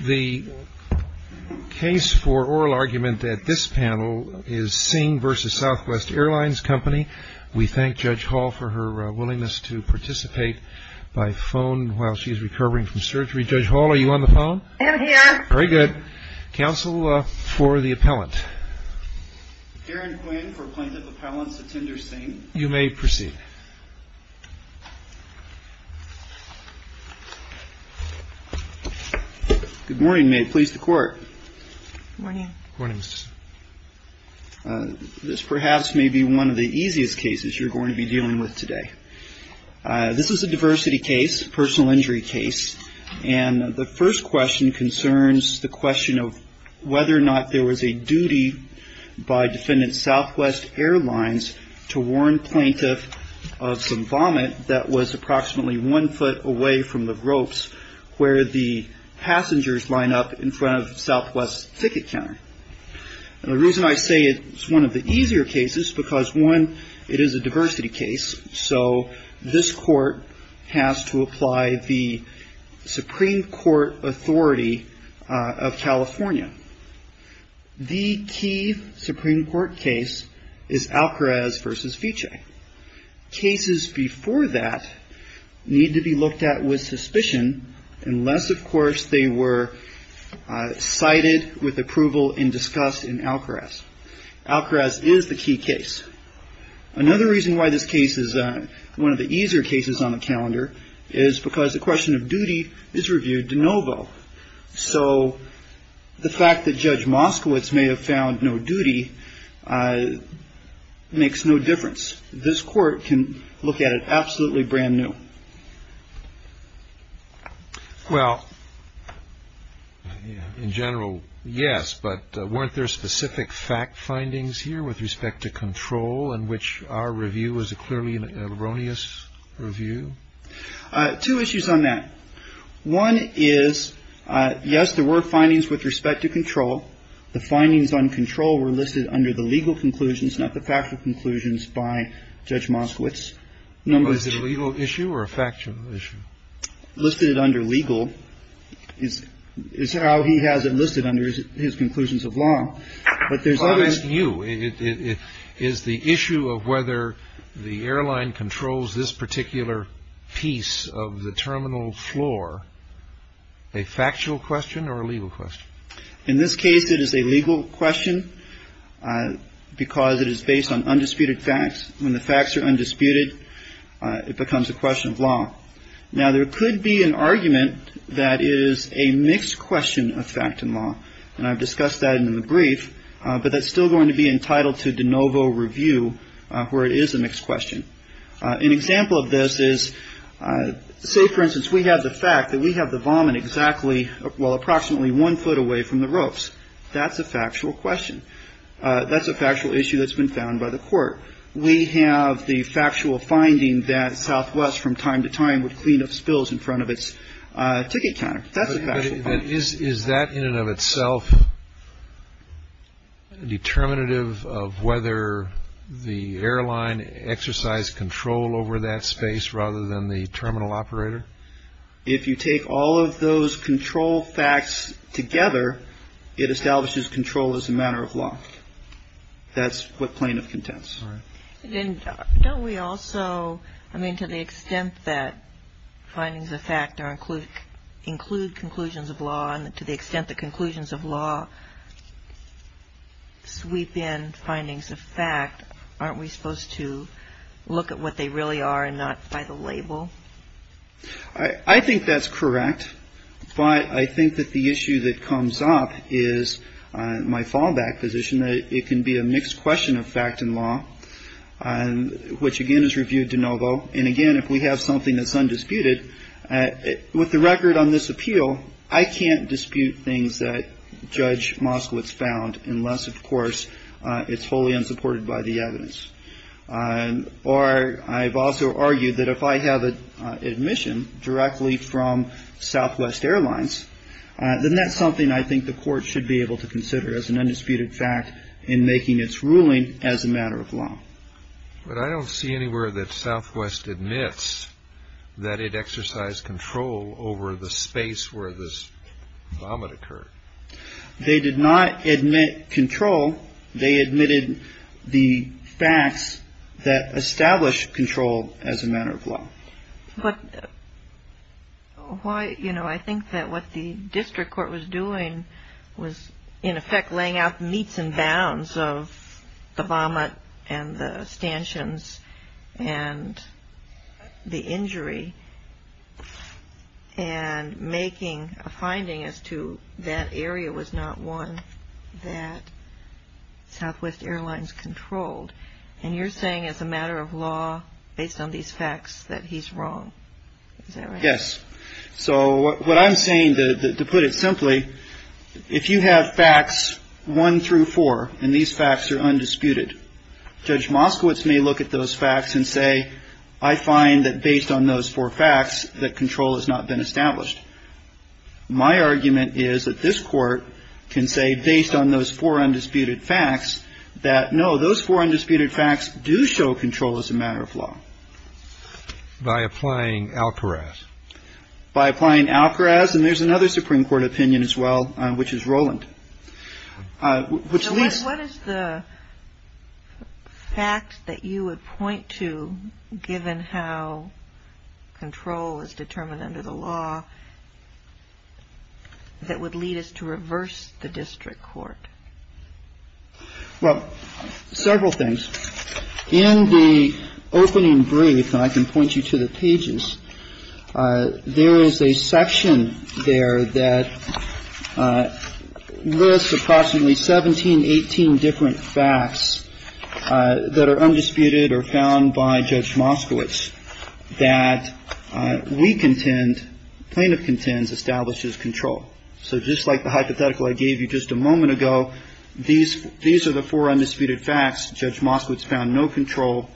The case for oral argument at this panel is Singh v. Southwest Airlines Co. We thank Judge Hall for her willingness to participate by phone while she is recovering from surgery. Judge Hall, are you on the phone? I am here. Very good. Counsel for the appellant. Darren Quinn for Plaintiff Appellant's Attender, Singh. You may proceed. Good morning. May it please the Court. Good morning. Good morning, Mr. Singh. This perhaps may be one of the easiest cases you're going to be dealing with today. This is a diversity case, a personal injury case, and the first question concerns the duty by Defendant Southwest Airlines to warn plaintiff of some vomit that was approximately one foot away from the ropes where the passengers line up in front of Southwest's ticket counter. The reason I say it's one of the easier cases is because, one, it is a diversity case, so this Court has to apply the Supreme Court authority of California. The key Supreme Court case is Alcarez v. Fiche. Cases before that need to be looked at with suspicion unless, of course, they were cited with approval and discussed in Alcarez. Alcarez is the key case. Another reason why this case is one of the easier cases on the calendar is because the question of duty is reviewed de novo. So the fact that Judge Moskowitz may have found no duty makes no difference. This Court can look at it absolutely brand new. Well, in general, yes, but weren't there specific fact findings here with respect to control in which our review was a clearly erroneous review? Two issues on that. One is, yes, there were findings with respect to control. The findings on control were listed under the legal conclusions, not the factual conclusions, by Judge Moskowitz. Was it a legal issue or a factual issue? Listed under legal is how he has it listed under his conclusions of law. I'll ask you, is the issue of whether the airline controls this particular piece of the terminal floor a factual question or a legal question? In this case, it is a legal question because it is based on undisputed facts. When the facts are undisputed, it becomes a question of law. Now, there could be an argument that it is a mixed question of fact and law, and I've but that's still going to be entitled to de novo review where it is a mixed question. An example of this is, say, for instance, we have the fact that we have the vomit exactly, well, approximately one foot away from the ropes. That's a factual question. That's a factual issue that's been found by the Court. We have the factual finding that Southwest from time to time would clean up spills in front of its ticket counter. That's a factual finding. Is that in and of itself a determinative of whether the airline exercised control over that space rather than the terminal operator? If you take all of those control facts together, it establishes control as a matter of law. That's what plaintiff contends. And don't we also, I mean, to the extent that findings of fact include conclusions of law and to the extent that conclusions of law sweep in findings of fact, aren't we supposed to look at what they really are and not by the label? I think that's correct, but I think that the issue that comes up is my fallback position that it can be a mixed question of fact and law, which again is reviewed de novo. And again, if we have something that's undisputed, with the record on this appeal, I can't dispute things that Judge Moskowitz found unless, of course, it's wholly unsupported by the evidence. Or I've also argued that if I have admission directly from Southwest Airlines, then that's something I think the court should be able to consider as an undisputed fact in making its ruling as a matter of law. But I don't see anywhere that Southwest admits that it exercised control over the space where this vomit occurred. They did not admit control. They admitted the facts that established control as a matter of law. But why, you know, I think that what the district court was doing was in effect laying out the meats and bounds of the vomit and the stanchions and the injury and making a finding as to that area was not one that Southwest Airlines controlled. And you're saying as a matter of law, based on these facts, that he's wrong. Yes. So what I'm saying, to put it simply, if you have facts one through four and these facts are undisputed, Judge Moskowitz may look at those facts and say, I find that based on those four facts, that control has not been established. My argument is that this court can say, based on those four undisputed facts, that no, those four undisputed facts do show control as a matter of law. By applying Alcoraz. By applying Alcoraz. And there's another Supreme Court opinion as well, which is Rowland, which leads. What is the fact that you would point to, given how control is determined under the law, that would lead us to reverse the district court? Well, several things. In the opening brief, and I can point you to the pages, there is a section there that lists approximately 17, 18 different facts that are undisputed or found by Judge Moskowitz that we contend, plaintiff contends, establishes control. So just like the hypothetical I gave you just a moment ago, these are the four undisputed facts, Judge Moskowitz found no control.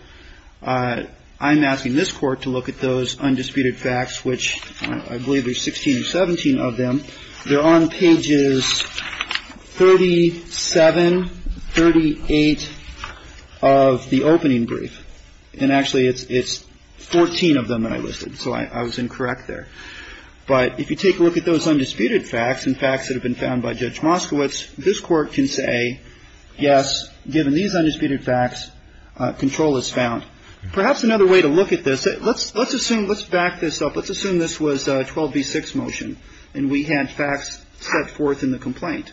I'm asking this court to look at those undisputed facts, which I believe there's 16, 17 of them. They're on pages 37, 38 of the opening brief. And actually, it's 14 of them that I listed, so I was incorrect there. But if you take a look at those undisputed facts and facts that have been found by Judge Moskowitz, this court can say, yes, given these undisputed facts, control is found. Perhaps another way to look at this, let's assume, let's back this up, let's assume this was a 12B6 motion and we had facts set forth in the complaint.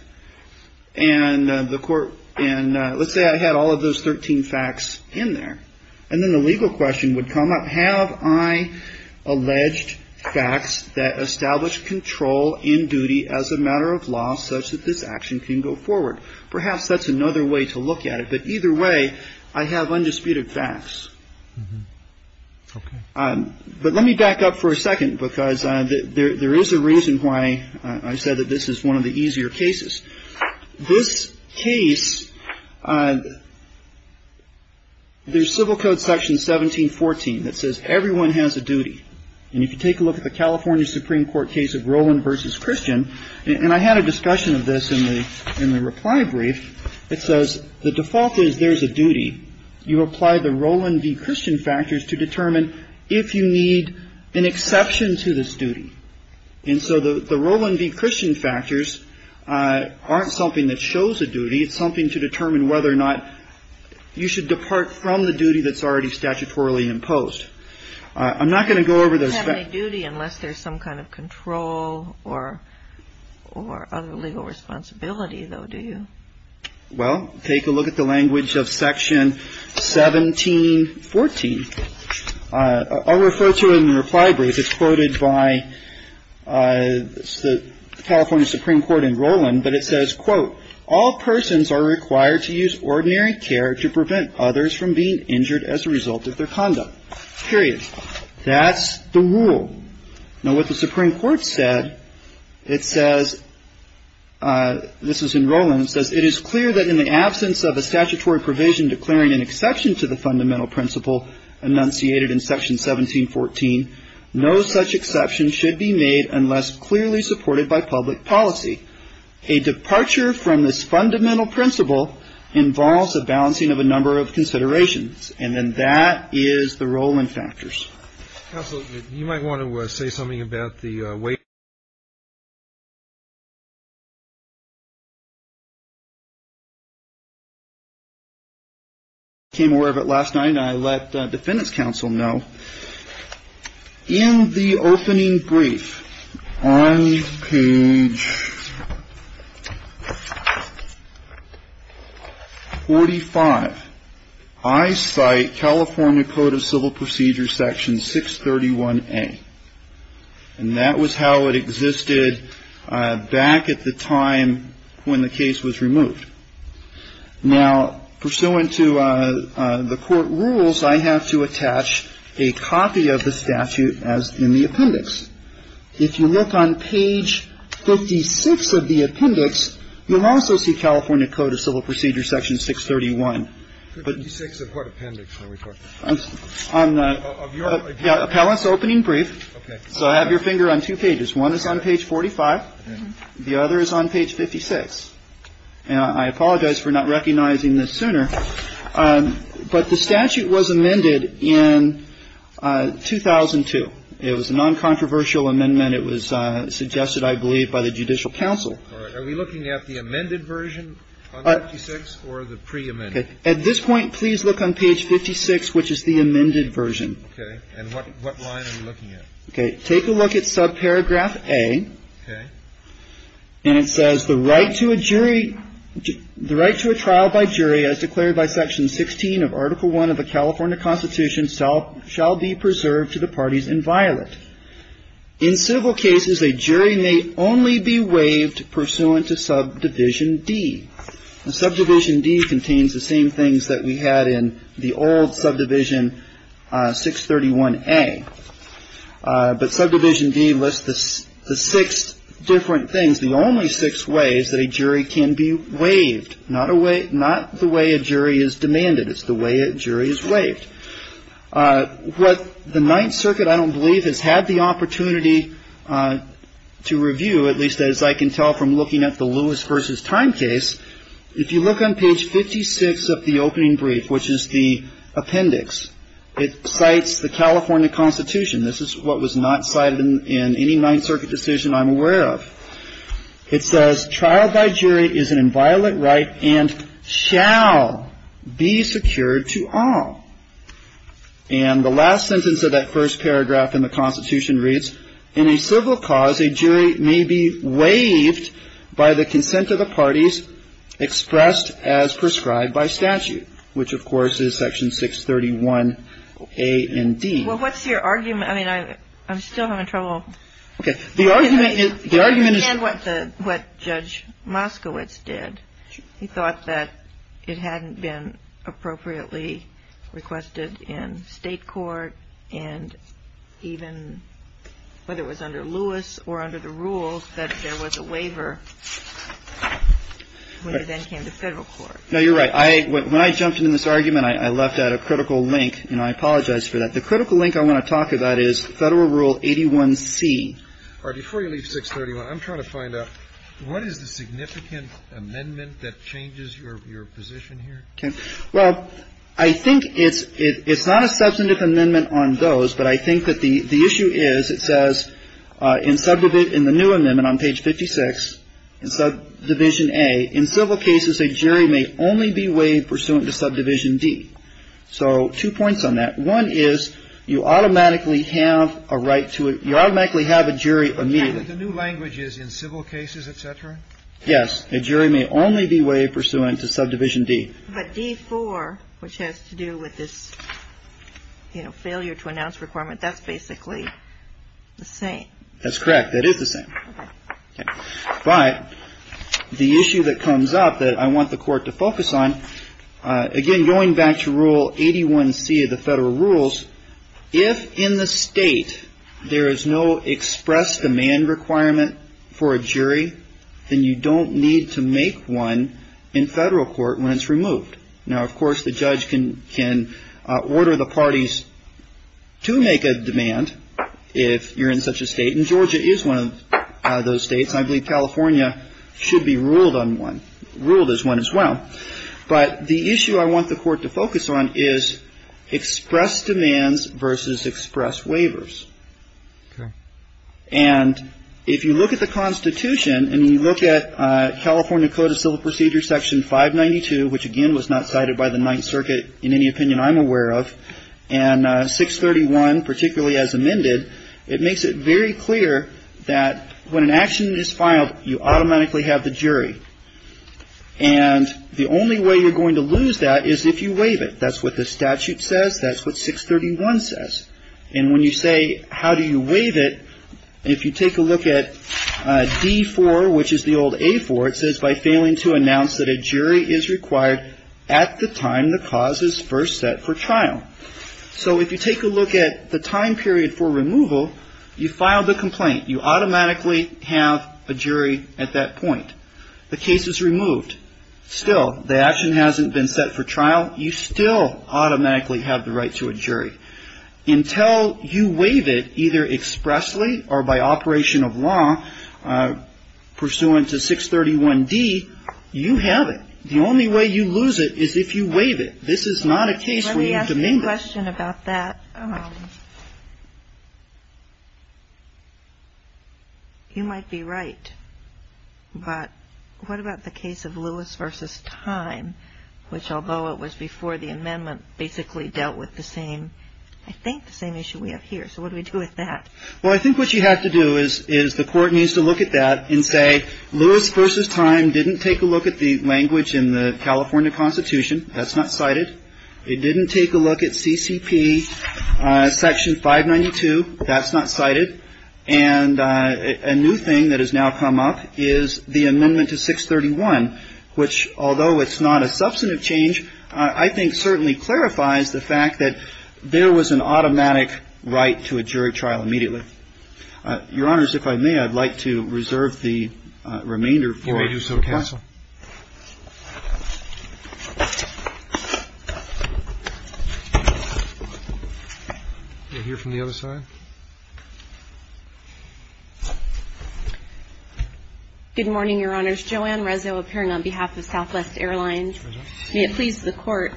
And the court, and let's say I had all of those 13 facts in there. And then the legal question would come up, have I alleged facts that establish control in duty as a matter of law, such that this action can go forward? Perhaps that's another way to look at it, but either way, I have undisputed facts. But let me back up for a second, because there is a reason why I said that this is one of the easier cases. This case, there's Civil Code Section 1714 that says everyone has a duty. And if you take a look at the California Supreme Court case of Roland v. Christian, and I had a discussion of this in the reply brief, it says the default is there's a duty. You apply the Roland v. Christian factors to determine if you need an exception to this duty. And so the Roland v. Christian factors aren't something that shows a duty. It's something to determine whether or not you should depart from the duty that's already statutorily imposed. I'm not going to go over those- You don't have any duty unless there's some kind of control or other legal responsibility though, do you? Well, take a look at the language of Section 1714. I'll refer to it in the reply brief. It's quoted by the California Supreme Court in Roland, but it says, quote, all persons are required to use ordinary care to prevent others from being injured as a result of their conduct, period. That's the rule. Now what the Supreme Court said, it says, this is in Roland, it says, it is clear that in the absence of a statutory provision declaring an exception to the fundamental principle enunciated in Section 1714, no such exception should be made unless clearly supported by public policy. A departure from this fundamental principle involves a balancing of a number of considerations. And then that is the Roland factors. Counsel, you might want to say something about the way. I became aware of it last night, and I let the defendant's counsel know. In the opening brief, on page 45, I cite California Code of Civil Procedures, Section 631A. And that was how it existed back at the time when the case was removed. Now, pursuant to the court rules, I have to attach a copy of the statute as in the appendix. If you look on page 56 of the appendix, you'll also see California Code of Civil Procedures, Section 631. 56 of what appendix are we talking about? Of your appendix? Yeah, appellant's opening brief. Okay. So I have your finger on two pages. One is on page 45. The other is on page 56. And I apologize for not recognizing this sooner. But the statute was amended in 2002. It was a noncontroversial amendment. It was suggested, I believe, by the judicial counsel. Are we looking at the amended version on 56 or the preamended? At this point, please look on page 56, which is the amended version. Okay. And what line are we looking at? Okay, take a look at subparagraph A. Okay. And it says, the right to a jury, the right to a trial by jury, as declared by Section 16 of Article 1 of the California Constitution, shall be preserved to the parties inviolate. In civil cases, a jury may only be waived pursuant to subdivision D. Subdivision D contains the same things that we had in the old Subdivision 631A. But Subdivision D lists the six different things. The only six ways that a jury can be waived. Not the way a jury is demanded. It's the way a jury is waived. What the Ninth Circuit, I don't believe, has had the opportunity to review, at least as I can tell from looking at the Lewis versus Time case. If you look on page 56 of the opening brief, which is the appendix, it cites the California Constitution. This is what was not cited in any Ninth Circuit decision I'm aware of. It says, trial by jury is an inviolate right and shall be secured to all. And the last sentence of that first paragraph in the Constitution reads, in a civil cause, a jury may be waived by the consent of the parties expressed as prescribed by statute, which of course is Section 631 A and D. Well, what's your argument? I mean, I'm still having trouble. Okay, the argument is- I understand what Judge Moskowitz did. He thought that it hadn't been appropriately requested in state court and even whether it was under Lewis or under the rules, that there was a waiver when it then came to federal court. No, you're right. When I jumped into this argument, I left out a critical link, and I apologize for that. The critical link I want to talk about is Federal Rule 81C. All right, before you leave 631, I'm trying to find out, what is the significant amendment that changes your position here? Well, I think it's not a substantive amendment on those, but I think that the issue is, it says in the new amendment on page 56 in Subdivision A, in civil cases, a jury may only be waived pursuant to Subdivision D. So two points on that. One is, you automatically have a right to- you automatically have a jury immediately. Okay, but the new language is in civil cases, et cetera? Yes, a jury may only be waived pursuant to Subdivision D. But D4, which has to do with this, you know, failure to announce requirement, that's basically the same. That's correct, that is the same. But the issue that comes up that I want the court to focus on, again, going back to Rule 81C of the federal rules, if in the state there is no express demand requirement for a jury, then you don't need to make one in federal court when it's removed. Now, of course, the judge can order the parties to make a demand if you're in such a state. And Georgia is one of those states. I believe California should be ruled on one, ruled as one as well. But the issue I want the court to focus on is express demands versus express waivers. Okay. And if you look at the Constitution and you look at California Code of Civil Procedures, Section 592, which, again, was not cited by the Ninth Circuit, in any opinion I'm aware of, and 631, particularly as amended, it makes it very clear that when an action is filed, you automatically have the jury. And the only way you're going to lose that is if you waive it. That's what the statute says. That's what 631 says. And when you say, how do you waive it, if you take a look at D-4, which is the old A-4, it says, by failing to announce that a jury is required at the time the cause is first set for trial. So if you take a look at the time period for removal, you file the complaint. You automatically have a jury at that point. The case is removed. Still, the action hasn't been set for trial. You still automatically have the right to a jury. Until you waive it, either expressly or by operation of law, pursuant to 631D, you have it. The only way you lose it is if you waive it. This is not a case where you demean it. Let me ask you a question about that. You might be right, but what about the case of Lewis versus Time, which, although it was before the amendment, basically dealt with the same, I think, the same issue we have here. So what do we do with that? Well, I think what you have to do is the court needs to look at that and say, Lewis versus Time didn't take a look at the language in the California Constitution. That's not cited. It didn't take a look at CCP Section 592. That's not cited. And a new thing that has now come up is the amendment to 631, which, although it's not a substantive change, I think certainly clarifies the fact that there was an automatic right to a jury trial immediately. Your Honors, if I may, I'd like to reserve the remainder for counsel. You may do so, counsel. We'll hear from the other side. Good morning, Your Honors. Joanne Rezzo appearing on behalf of Southwest Airlines. May it please the Court,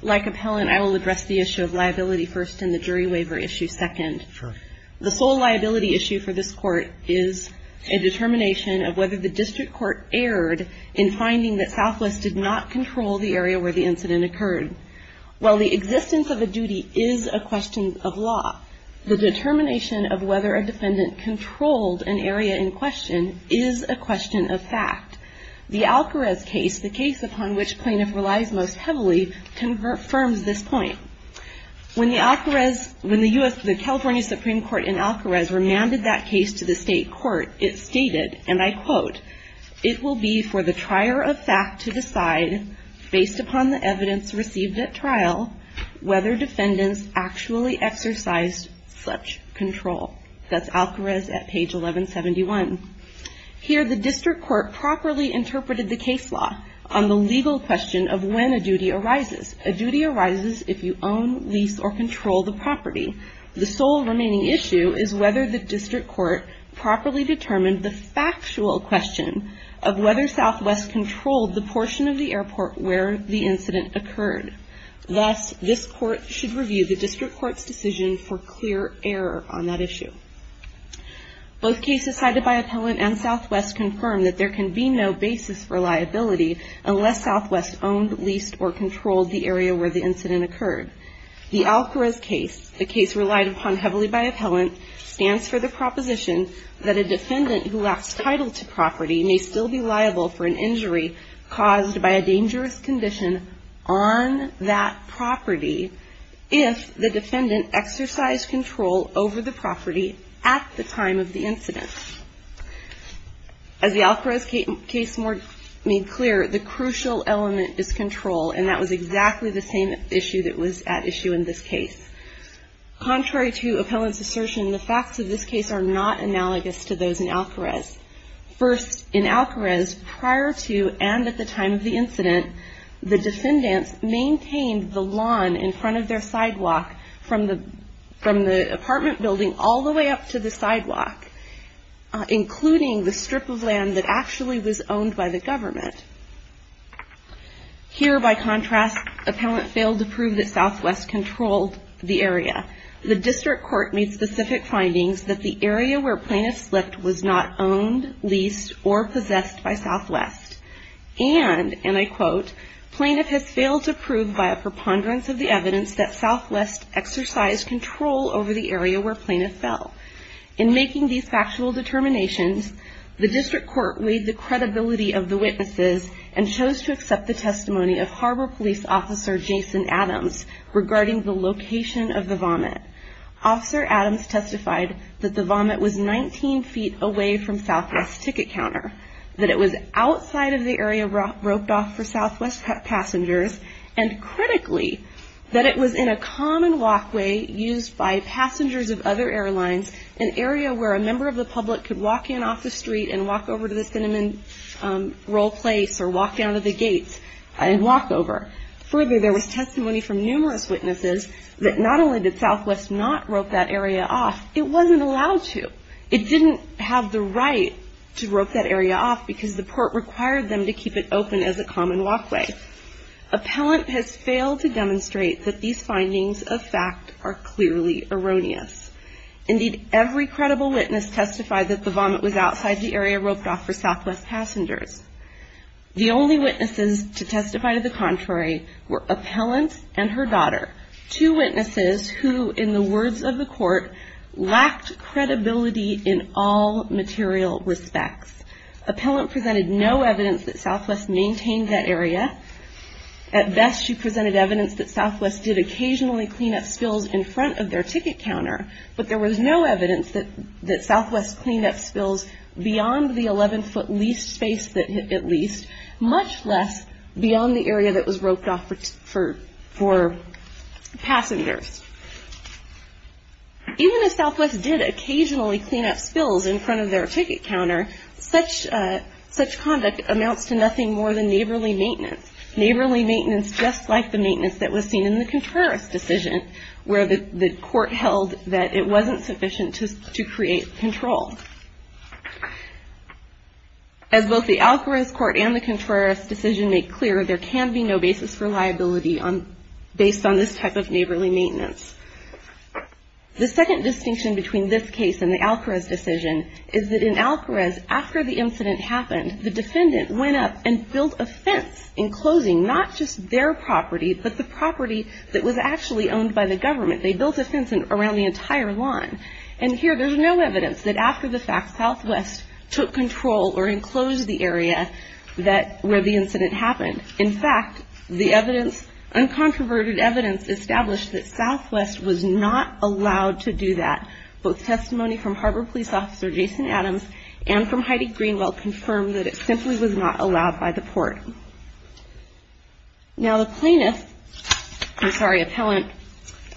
like Appellant, I will address the issue of liability first and the jury waiver issue second. The sole liability issue for this Court is a determination of whether the district court erred in finding that Southwest did not control the area where the incident occurred. While the existence of a duty is a question of law, the determination of whether a defendant controlled an area in question is a question of fact. The Alcarez case, the case upon which plaintiff relies most heavily, confirms this point. When the California Supreme Court in Alcarez remanded that case to the state court, it stated, and I quote, it will be for the trier of fact to decide, based upon the evidence received at trial, whether defendants actually exercised such control. That's Alcarez at page 1171. Here, the district court properly interpreted the case law on the legal question of when a duty arises. A duty arises if you own, lease, or control the property. The sole remaining issue is whether the district court properly determined the factual question of whether Southwest controlled the portion of the airport where the incident occurred. Thus, this court should review the district court's decision for clear error on that issue. Both cases cited by Appellant and Southwest confirm that there can be no basis for liability unless Southwest owned, leased, or controlled the area where the incident occurred. The Alcarez case, the case relied upon heavily by Appellant, stands for the proposition that a defendant who lacks title to property may still be liable for an injury caused by a dangerous condition on that property if the defendant exercised control over the property at the time of the incident. As the Alcarez case made clear, the crucial element is control, and that was exactly the same issue that was at issue in this case. Contrary to Appellant's assertion, the facts of this case are not analogous to those in Alcarez. First, in Alcarez, prior to and at the time of the incident, the defendants maintained the lawn in front of their sidewalk from the apartment building all the way up to the sidewalk, including the strip of land that actually was owned by the government. Here, by contrast, Appellant failed to prove that Southwest controlled the area. The district court made specific findings that the area where Plaintiff slipped was not owned, leased, or possessed by Southwest. And, and I quote, Plaintiff has failed to prove by a preponderance of the evidence that Southwest exercised control over the area where Plaintiff fell. In making these factual determinations, the district court weighed the credibility of the witnesses and chose to accept the testimony of Harbor Police Officer Jason Adams regarding the location of the vomit. Officer Adams testified that the vomit was 19 feet away from Southwest's ticket counter, that it was outside of the area roped off for Southwest passengers, and critically, that it was in a common walkway used by passengers of other airlines, an area where a member of the public could walk in off the street and walk over to the cinnamon roll place or walk down to the gates and walk over. Further, there was testimony from numerous witnesses that not only did Southwest not rope that area off, it wasn't allowed to. It didn't have the right to rope that area off because the court required them to keep it open as a common walkway. Appellant has failed to demonstrate that these findings of fact are clearly erroneous. Indeed, every credible witness testified that the vomit was outside the area roped off for Southwest passengers. The only witnesses to testify to the contrary were Appellant and her daughter, two witnesses who, in the words of the court, lacked credibility in all material respects. Appellant presented no evidence that Southwest maintained that area. At best, she presented evidence that Southwest did occasionally clean up spills in front of their ticket counter, but there was no evidence that Southwest cleaned up spills beyond the 11-foot leased space that it leased, much less beyond the area that was roped off for passengers. Even if Southwest did occasionally clean up spills in front of their ticket counter, such conduct amounts to nothing more than neighborly maintenance, neighborly maintenance just like the maintenance that was seen in the Contreras decision where the court held that it wasn't sufficient to create control. As both the Alcarez court and the Contreras decision make clear, there can be no basis for liability based on this type of neighborly maintenance. The second distinction between this case and the Alcarez decision is that in Alcarez, after the incident happened, the defendant went up and built a fence enclosing not just their property, but the property that was actually owned by the government. They built a fence around the entire lawn. And here, there's no evidence that after the fact, Southwest took control or enclosed the area that where the incident happened. In fact, the evidence, uncontroverted evidence established that Southwest was not allowed to do that. Both testimony from Harbor Police Officer Jason Adams and from Heidi Greenwell confirmed that it simply was not allowed by the court. Now, the plaintiff, I'm sorry, appellant,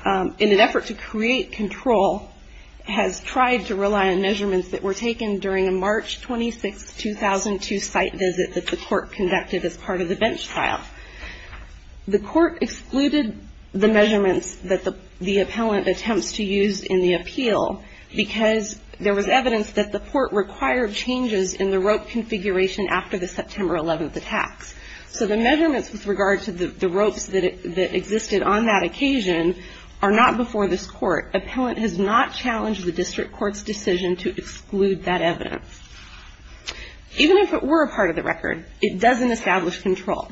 in an effort to create control has tried to rely on measurements that were taken during a March 26, 2002 site visit that the court conducted as part of the bench trial. The court excluded the measurements that the appellant attempts to use in the appeal because there was evidence that the court required changes in the rope configuration after the September 11th attacks. So, the measurements with regard to the ropes that existed on that occasion are not before this court. Appellant has not challenged the district court's decision to exclude that evidence. Even if it were a part of the record, it doesn't establish control.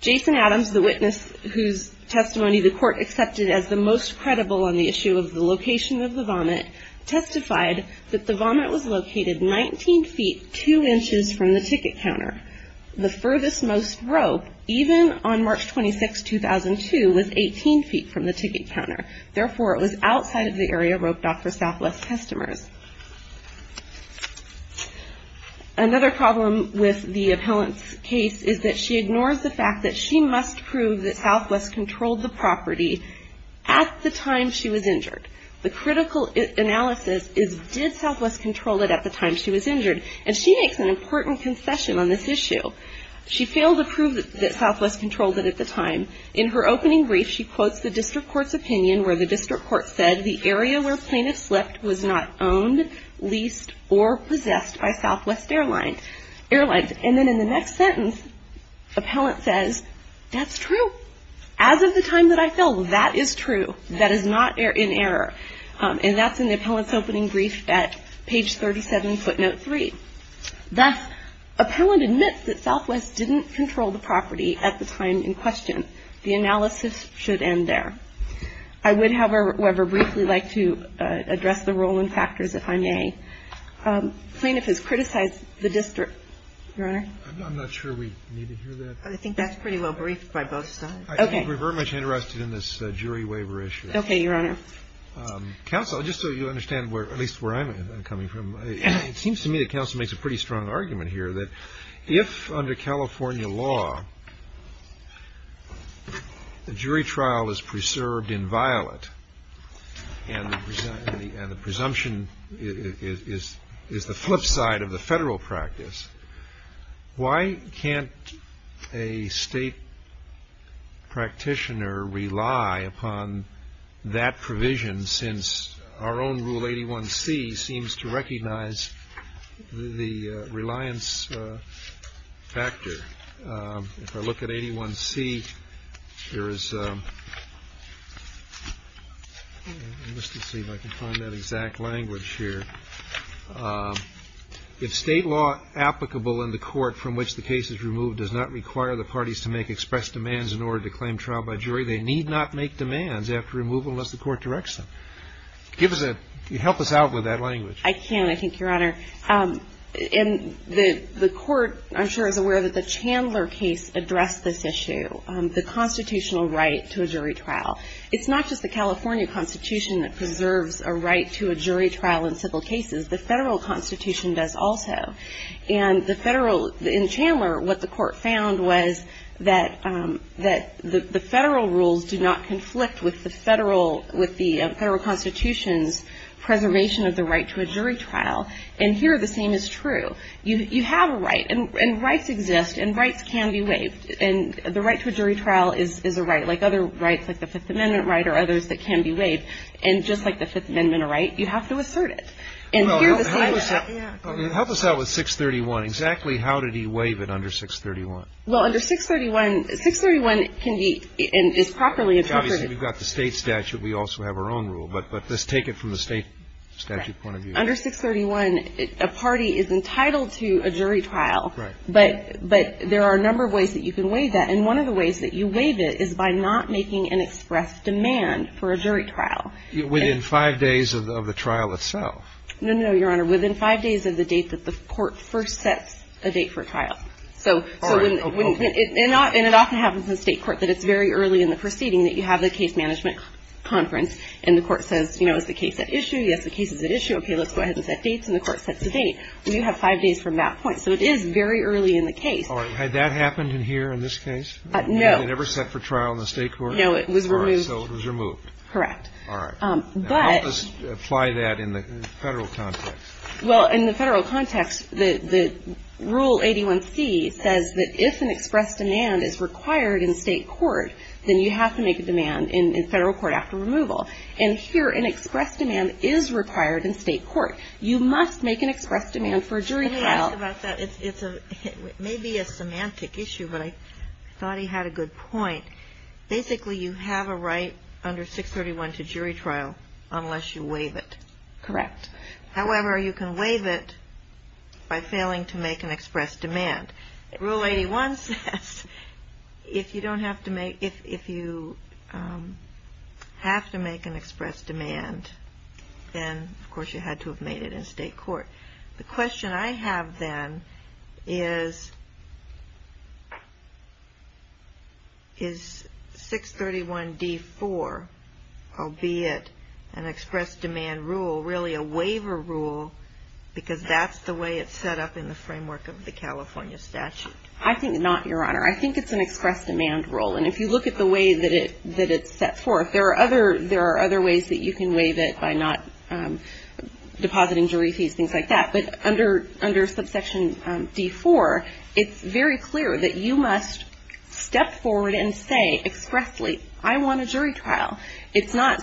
Jason Adams, the witness whose testimony the court accepted as the most credible on the issue of the location of the vomit, testified that the vomit was located 19 feet, 2 inches from the ticket counter. The furthest most rope, even on March 26, 2002, was 18 feet from the ticket counter. Therefore, it was outside of the area roped off for Southwest customers. Another problem with the appellant's case is that she ignores the fact that she must prove that Southwest controlled the property at the time she was injured. The critical analysis is, did Southwest control it at the time she was injured? And she makes an important concession on this issue. She failed to prove that Southwest controlled it at the time. In her opening brief, she quotes the district court's opinion where the district court said, the area where plaintiff slept was not owned, leased, or possessed by Southwest Airlines. And then in the next sentence, appellant says, that's true. As of the time that I fell, that is true. That is not in error. And that's in the appellant's opening brief at page 37, footnote 3. Thus, appellant admits that Southwest didn't control the property at the time in question. The analysis should end there. I would, however, briefly like to address the ruling factors, if I may. Plaintiff has criticized the district. Your Honor? I'm not sure we need to hear that. I think that's pretty well briefed by both sides. Okay. I think we're very much interested in this jury waiver issue. Okay, Your Honor. Counsel, just so you understand where, at least where I'm coming from, it seems to me that counsel makes a pretty strong argument here that if under California law the jury trial is the flip side of the federal practice, why can't a state practitioner rely upon that provision since our own Rule 81c seems to recognize the reliance factor? If I look at 81c, there is a, let's just see if I can find that exact language here. If state law applicable in the court from which the case is removed does not require the parties to make express demands in order to claim trial by jury, they need not make demands after removal unless the court directs them. Give us a, help us out with that language. I can, I think, Your Honor. And the court, I'm sure, is aware that the Chandler case addressed this issue, the constitutional right to a jury trial. It's not just the California Constitution that preserves a right to a jury trial in civil cases, the federal constitution does also. And the federal, in Chandler what the court found was that the federal rules do not conflict with the federal, with the federal constitution's preservation of the right to a jury trial. And here the same is true. You have a right, and rights exist, and rights can be waived, and the right to a jury trial is a right like other rights, like the Fifth Amendment right or others that can be waived. And just like the Fifth Amendment right, you have to assert it. And here the same is true. Yeah. Help us out with 631. Exactly how did he waive it under 631? Well, under 631, 631 can be, is properly interpreted. Obviously, we've got the state statute. We also have our own rule. But let's take it from the state statute point of view. Under 631, a party is entitled to a jury trial. Right. But there are a number of ways that you can waive that. And one of the ways that you waive it is by not making an express demand for a jury trial. Within five days of the trial itself. No, no, no, Your Honor. Within five days of the date that the court first sets a date for a trial. So when it, and it often happens in the state court that it's very early in the proceeding that you have the case management conference, and the court says, you know, is the case at issue? Yes, the case is at issue. Okay, let's go ahead and set dates. And the court sets a date. And you have five days from that point. So it is very early in the case. All right. Had that happened in here, in this case? No. It never set for trial in the state court? No, it was removed. So it was removed. Correct. All right. But How does it apply that in the Federal context? Well, in the Federal context, the Rule 81c says that if an express demand is required in state court, then you have to make a demand in Federal court after removal. And here, an express demand is required in state court. You must make an express demand for a jury trial. It may be a semantic issue, but I thought he had a good point. Basically, you have a right under 631 to jury trial unless you waive it. Correct. However, you can waive it by failing to make an express demand. Rule 81 says if you don't have to make if you have to make an express demand, then, of course, you had to have made it in state court. The question I have, then, is 631d4, albeit an express demand rule, really a waiver rule, because that's the way it's set up in the framework of the California statute? I think not, Your Honor. I think it's an express demand rule. And if you look at the way that it's set forth, there are other ways that you can waive it by not depositing jury fees, things like that. But under subsection d4, it's very clear that you must step forward and say expressly, I want a jury trial. It's not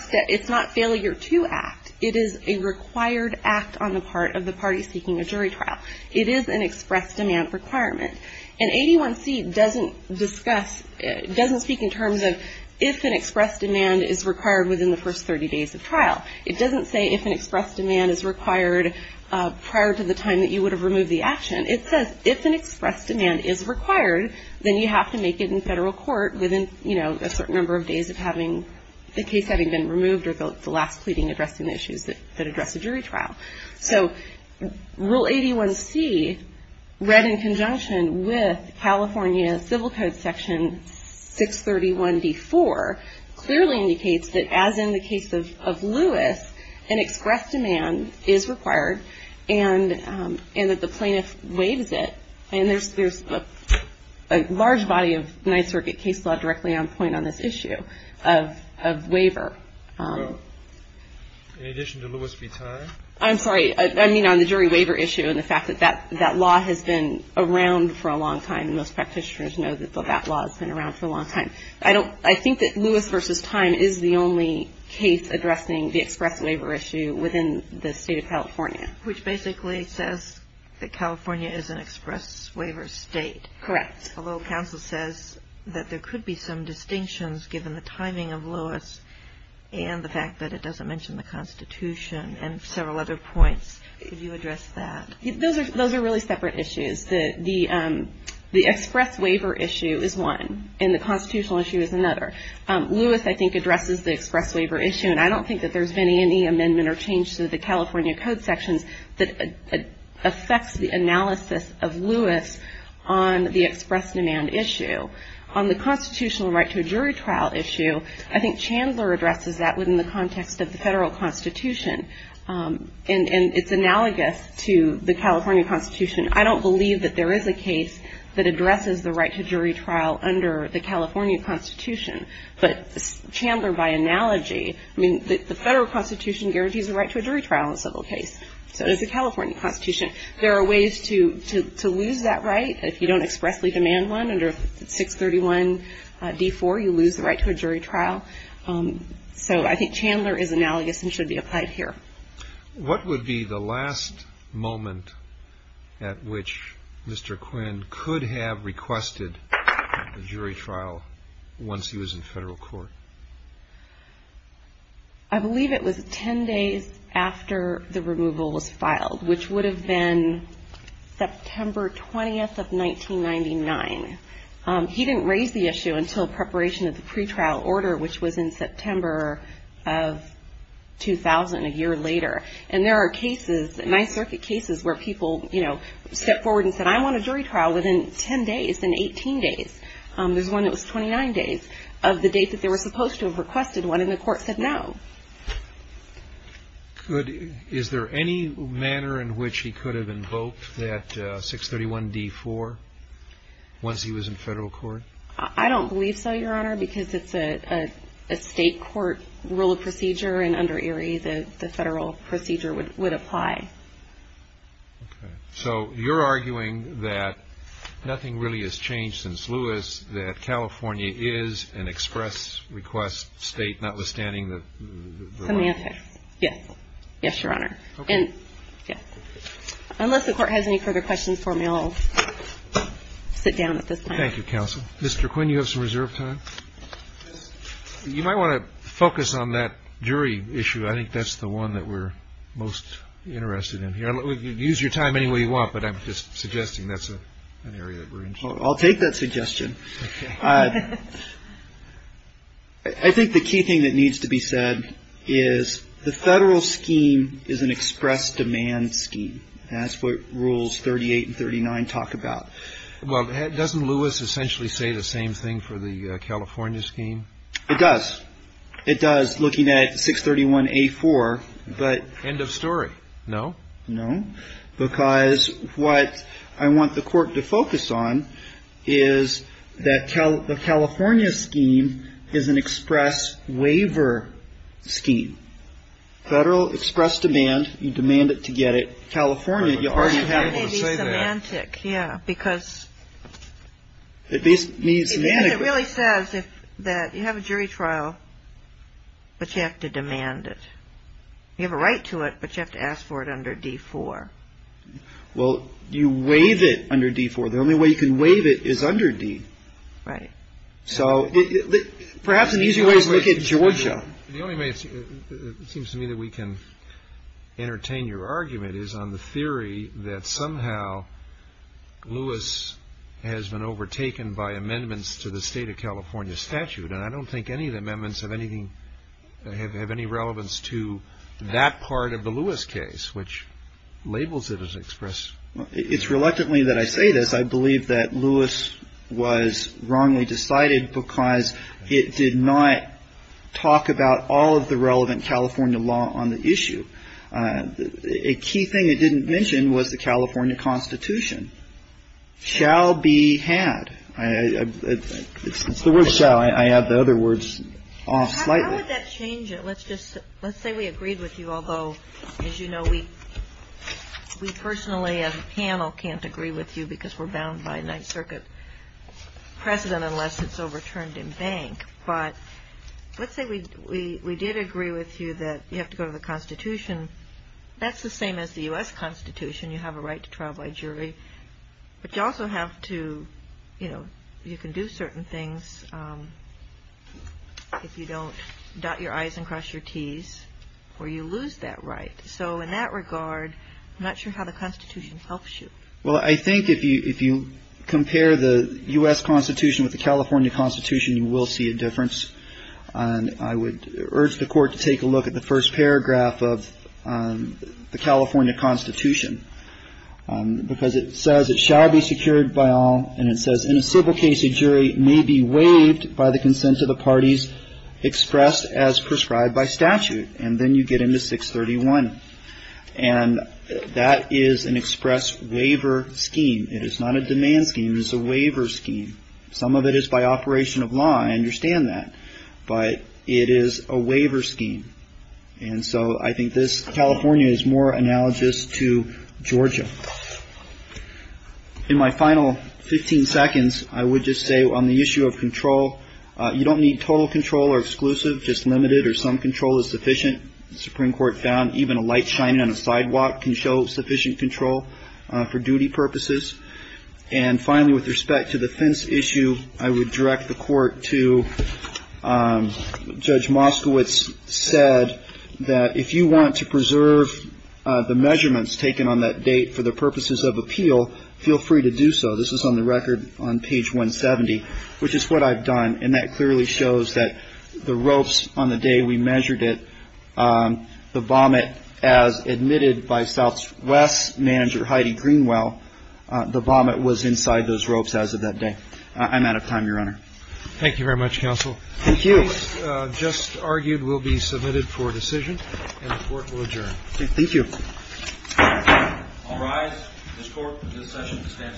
failure to act. It is a required act on the part of the party seeking a jury trial. It is an express demand requirement. And 81c doesn't discuss, doesn't speak in terms of if an express demand is required within the first 30 days of trial. It doesn't say if an express demand is required prior to the time that you would have removed the action. It says if an express demand is required, then you have to make it in federal court within a certain number of days of having the case having been removed or the last pleading addressing the issues that address a jury trial. So Rule 81c, read in conjunction with California Civil Code Section 631d4, clearly indicates that as in the case of Lewis, an express demand is required and that the plaintiff waives it. And there's a large body of Ninth Circuit case law directly on point on this issue of waiver. In addition to Lewis v. Time? I'm sorry. I mean on the jury waiver issue and the fact that that law has been around for a long time. Most practitioners know that that law has been around for a long time. I think that Lewis v. Time is the only case addressing the express waiver issue within the state of California. Which basically says that California is an express waiver state. Correct. Although counsel says that there could be some distinctions given the timing of Lewis and the fact that it doesn't mention the Constitution and several other points. Could you address that? Those are really separate issues. The express waiver issue is one and the constitutional issue is another. Lewis I think addresses the express waiver issue and I don't think that there's been any amendment or change to the California Code Sections that affects the analysis of Lewis on the express demand issue. On the constitutional right to a jury trial issue, I think Chandler addresses that within the context of the Federal Constitution. And it's analogous to the California Constitution. I don't believe that there is a case that addresses the right to jury trial under the California Constitution. But Chandler by analogy, I mean the Federal Constitution guarantees the right to a jury trial in a civil case. So does the California Constitution. There are ways to lose that right if you don't expressly demand one under 631 D4 you lose the right to a jury trial. So I think Chandler is analogous and should be applied here. What would be the last moment at which Mr. Quinn could have requested a jury trial once he was in federal court? I believe it was 10 days after the removal was filed, which would have been September 20th of 1999. He didn't raise the issue until preparation of the pretrial order, which was in September of 2000, a year later. And there are cases, Ninth Circuit cases, where people, you know, step forward and said, I want a jury trial within 10 days, then 18 days. There's one that was 29 days of the date that they were supposed to have requested one and the court said no. Is there any manner in which he could have invoked that 631 D4 once he was in federal court? I don't believe so, Your Honor, because it's a state court rule of procedure and under ERIE the federal procedure would apply. So you're arguing that nothing really has changed since Lewis, that California is an express request state, notwithstanding the law? Yes. Yes, Your Honor. Unless the court has any further questions for me, I'll sit down at this time. Thank you, counsel. Mr. Quinn, you have some reserve time? You might want to focus on that jury issue. I think that's the one that we're most interested in here. Use your time any way you want, but I'm just suggesting that's an area that we're interested in. I'll take that suggestion. I think the key thing that needs to be said is the federal scheme is an express demand scheme. That's what Rules 38 and 39 talk about. Well, doesn't Lewis essentially say the same thing for the California scheme? It does. It does, looking at 631A4, but – End of story. No? No, because what I want the court to focus on is that the California scheme is an express waiver scheme. Federal express demand, you demand it to get it. California, you already have – I think, yeah, because it really says that you have a jury trial, but you have to demand it. You have a right to it, but you have to ask for it under D4. Well, you waive it under D4. The only way you can waive it is under D. Right. So perhaps an easy way is to look at Georgia. The only way it seems to me that we can entertain your argument is on the theory that somehow Lewis has been overtaken by amendments to the state of California statute. And I don't think any of the amendments have anything – have any relevance to that part of the Lewis case, which labels it as express. It's reluctantly that I say this. I believe that Lewis was wrongly decided because it did not talk about all of the relevant California law on the issue. A key thing it didn't mention was the California constitution, shall be had. It's the word shall. I add the other words slightly. How would that change it? Let's just say we agreed with you. Although, as you know, we personally as a panel can't agree with you because we're bound by a Ninth Circuit precedent unless it's overturned in bank. But let's say we did agree with you that you have to go to the constitution. That's the same as the U.S. constitution. You have a right to trial by jury. But you also have to, you know, you can do certain things if you don't dot your I's and cross your T's or you lose that right. So in that regard, I'm not sure how the constitution helps you. Well, I think if you compare the U.S. constitution with the California constitution, you will see a difference. I would urge the court to take a look at the first paragraph of the California constitution because it says it shall be secured by all, and it says in a civil case, a jury may be waived by the consent of the parties expressed as prescribed by statute. And then you get into 631. And that is an express waiver scheme. It is not a demand scheme. It's a waiver scheme. Some of it is by operation of law, I understand that. But it is a waiver scheme. And so I think this California is more analogous to Georgia. In my final 15 seconds, I would just say on the issue of control, you don't need total control or exclusive, just limited or some control is sufficient. Supreme Court found even a light shining on a sidewalk can show sufficient control for duty purposes. And finally, with respect to the fence issue, I would direct the court to Judge Moskowitz said that if you want to preserve the measurements taken on that date for the purposes of appeal, feel free to do so. This is on the record on page 170, which is what I've done. And that clearly shows that the ropes on the day we measured it, the vomit as admitted by Southwest Manager Heidi Greenwell, the vomit was inside those ropes as of that day. I'm out of time, Your Honor. Thank you very much, Counsel. Thank you. The case just argued will be submitted for decision and the court will adjourn. Thank you. I'll rise. This court, this session stands adjourned.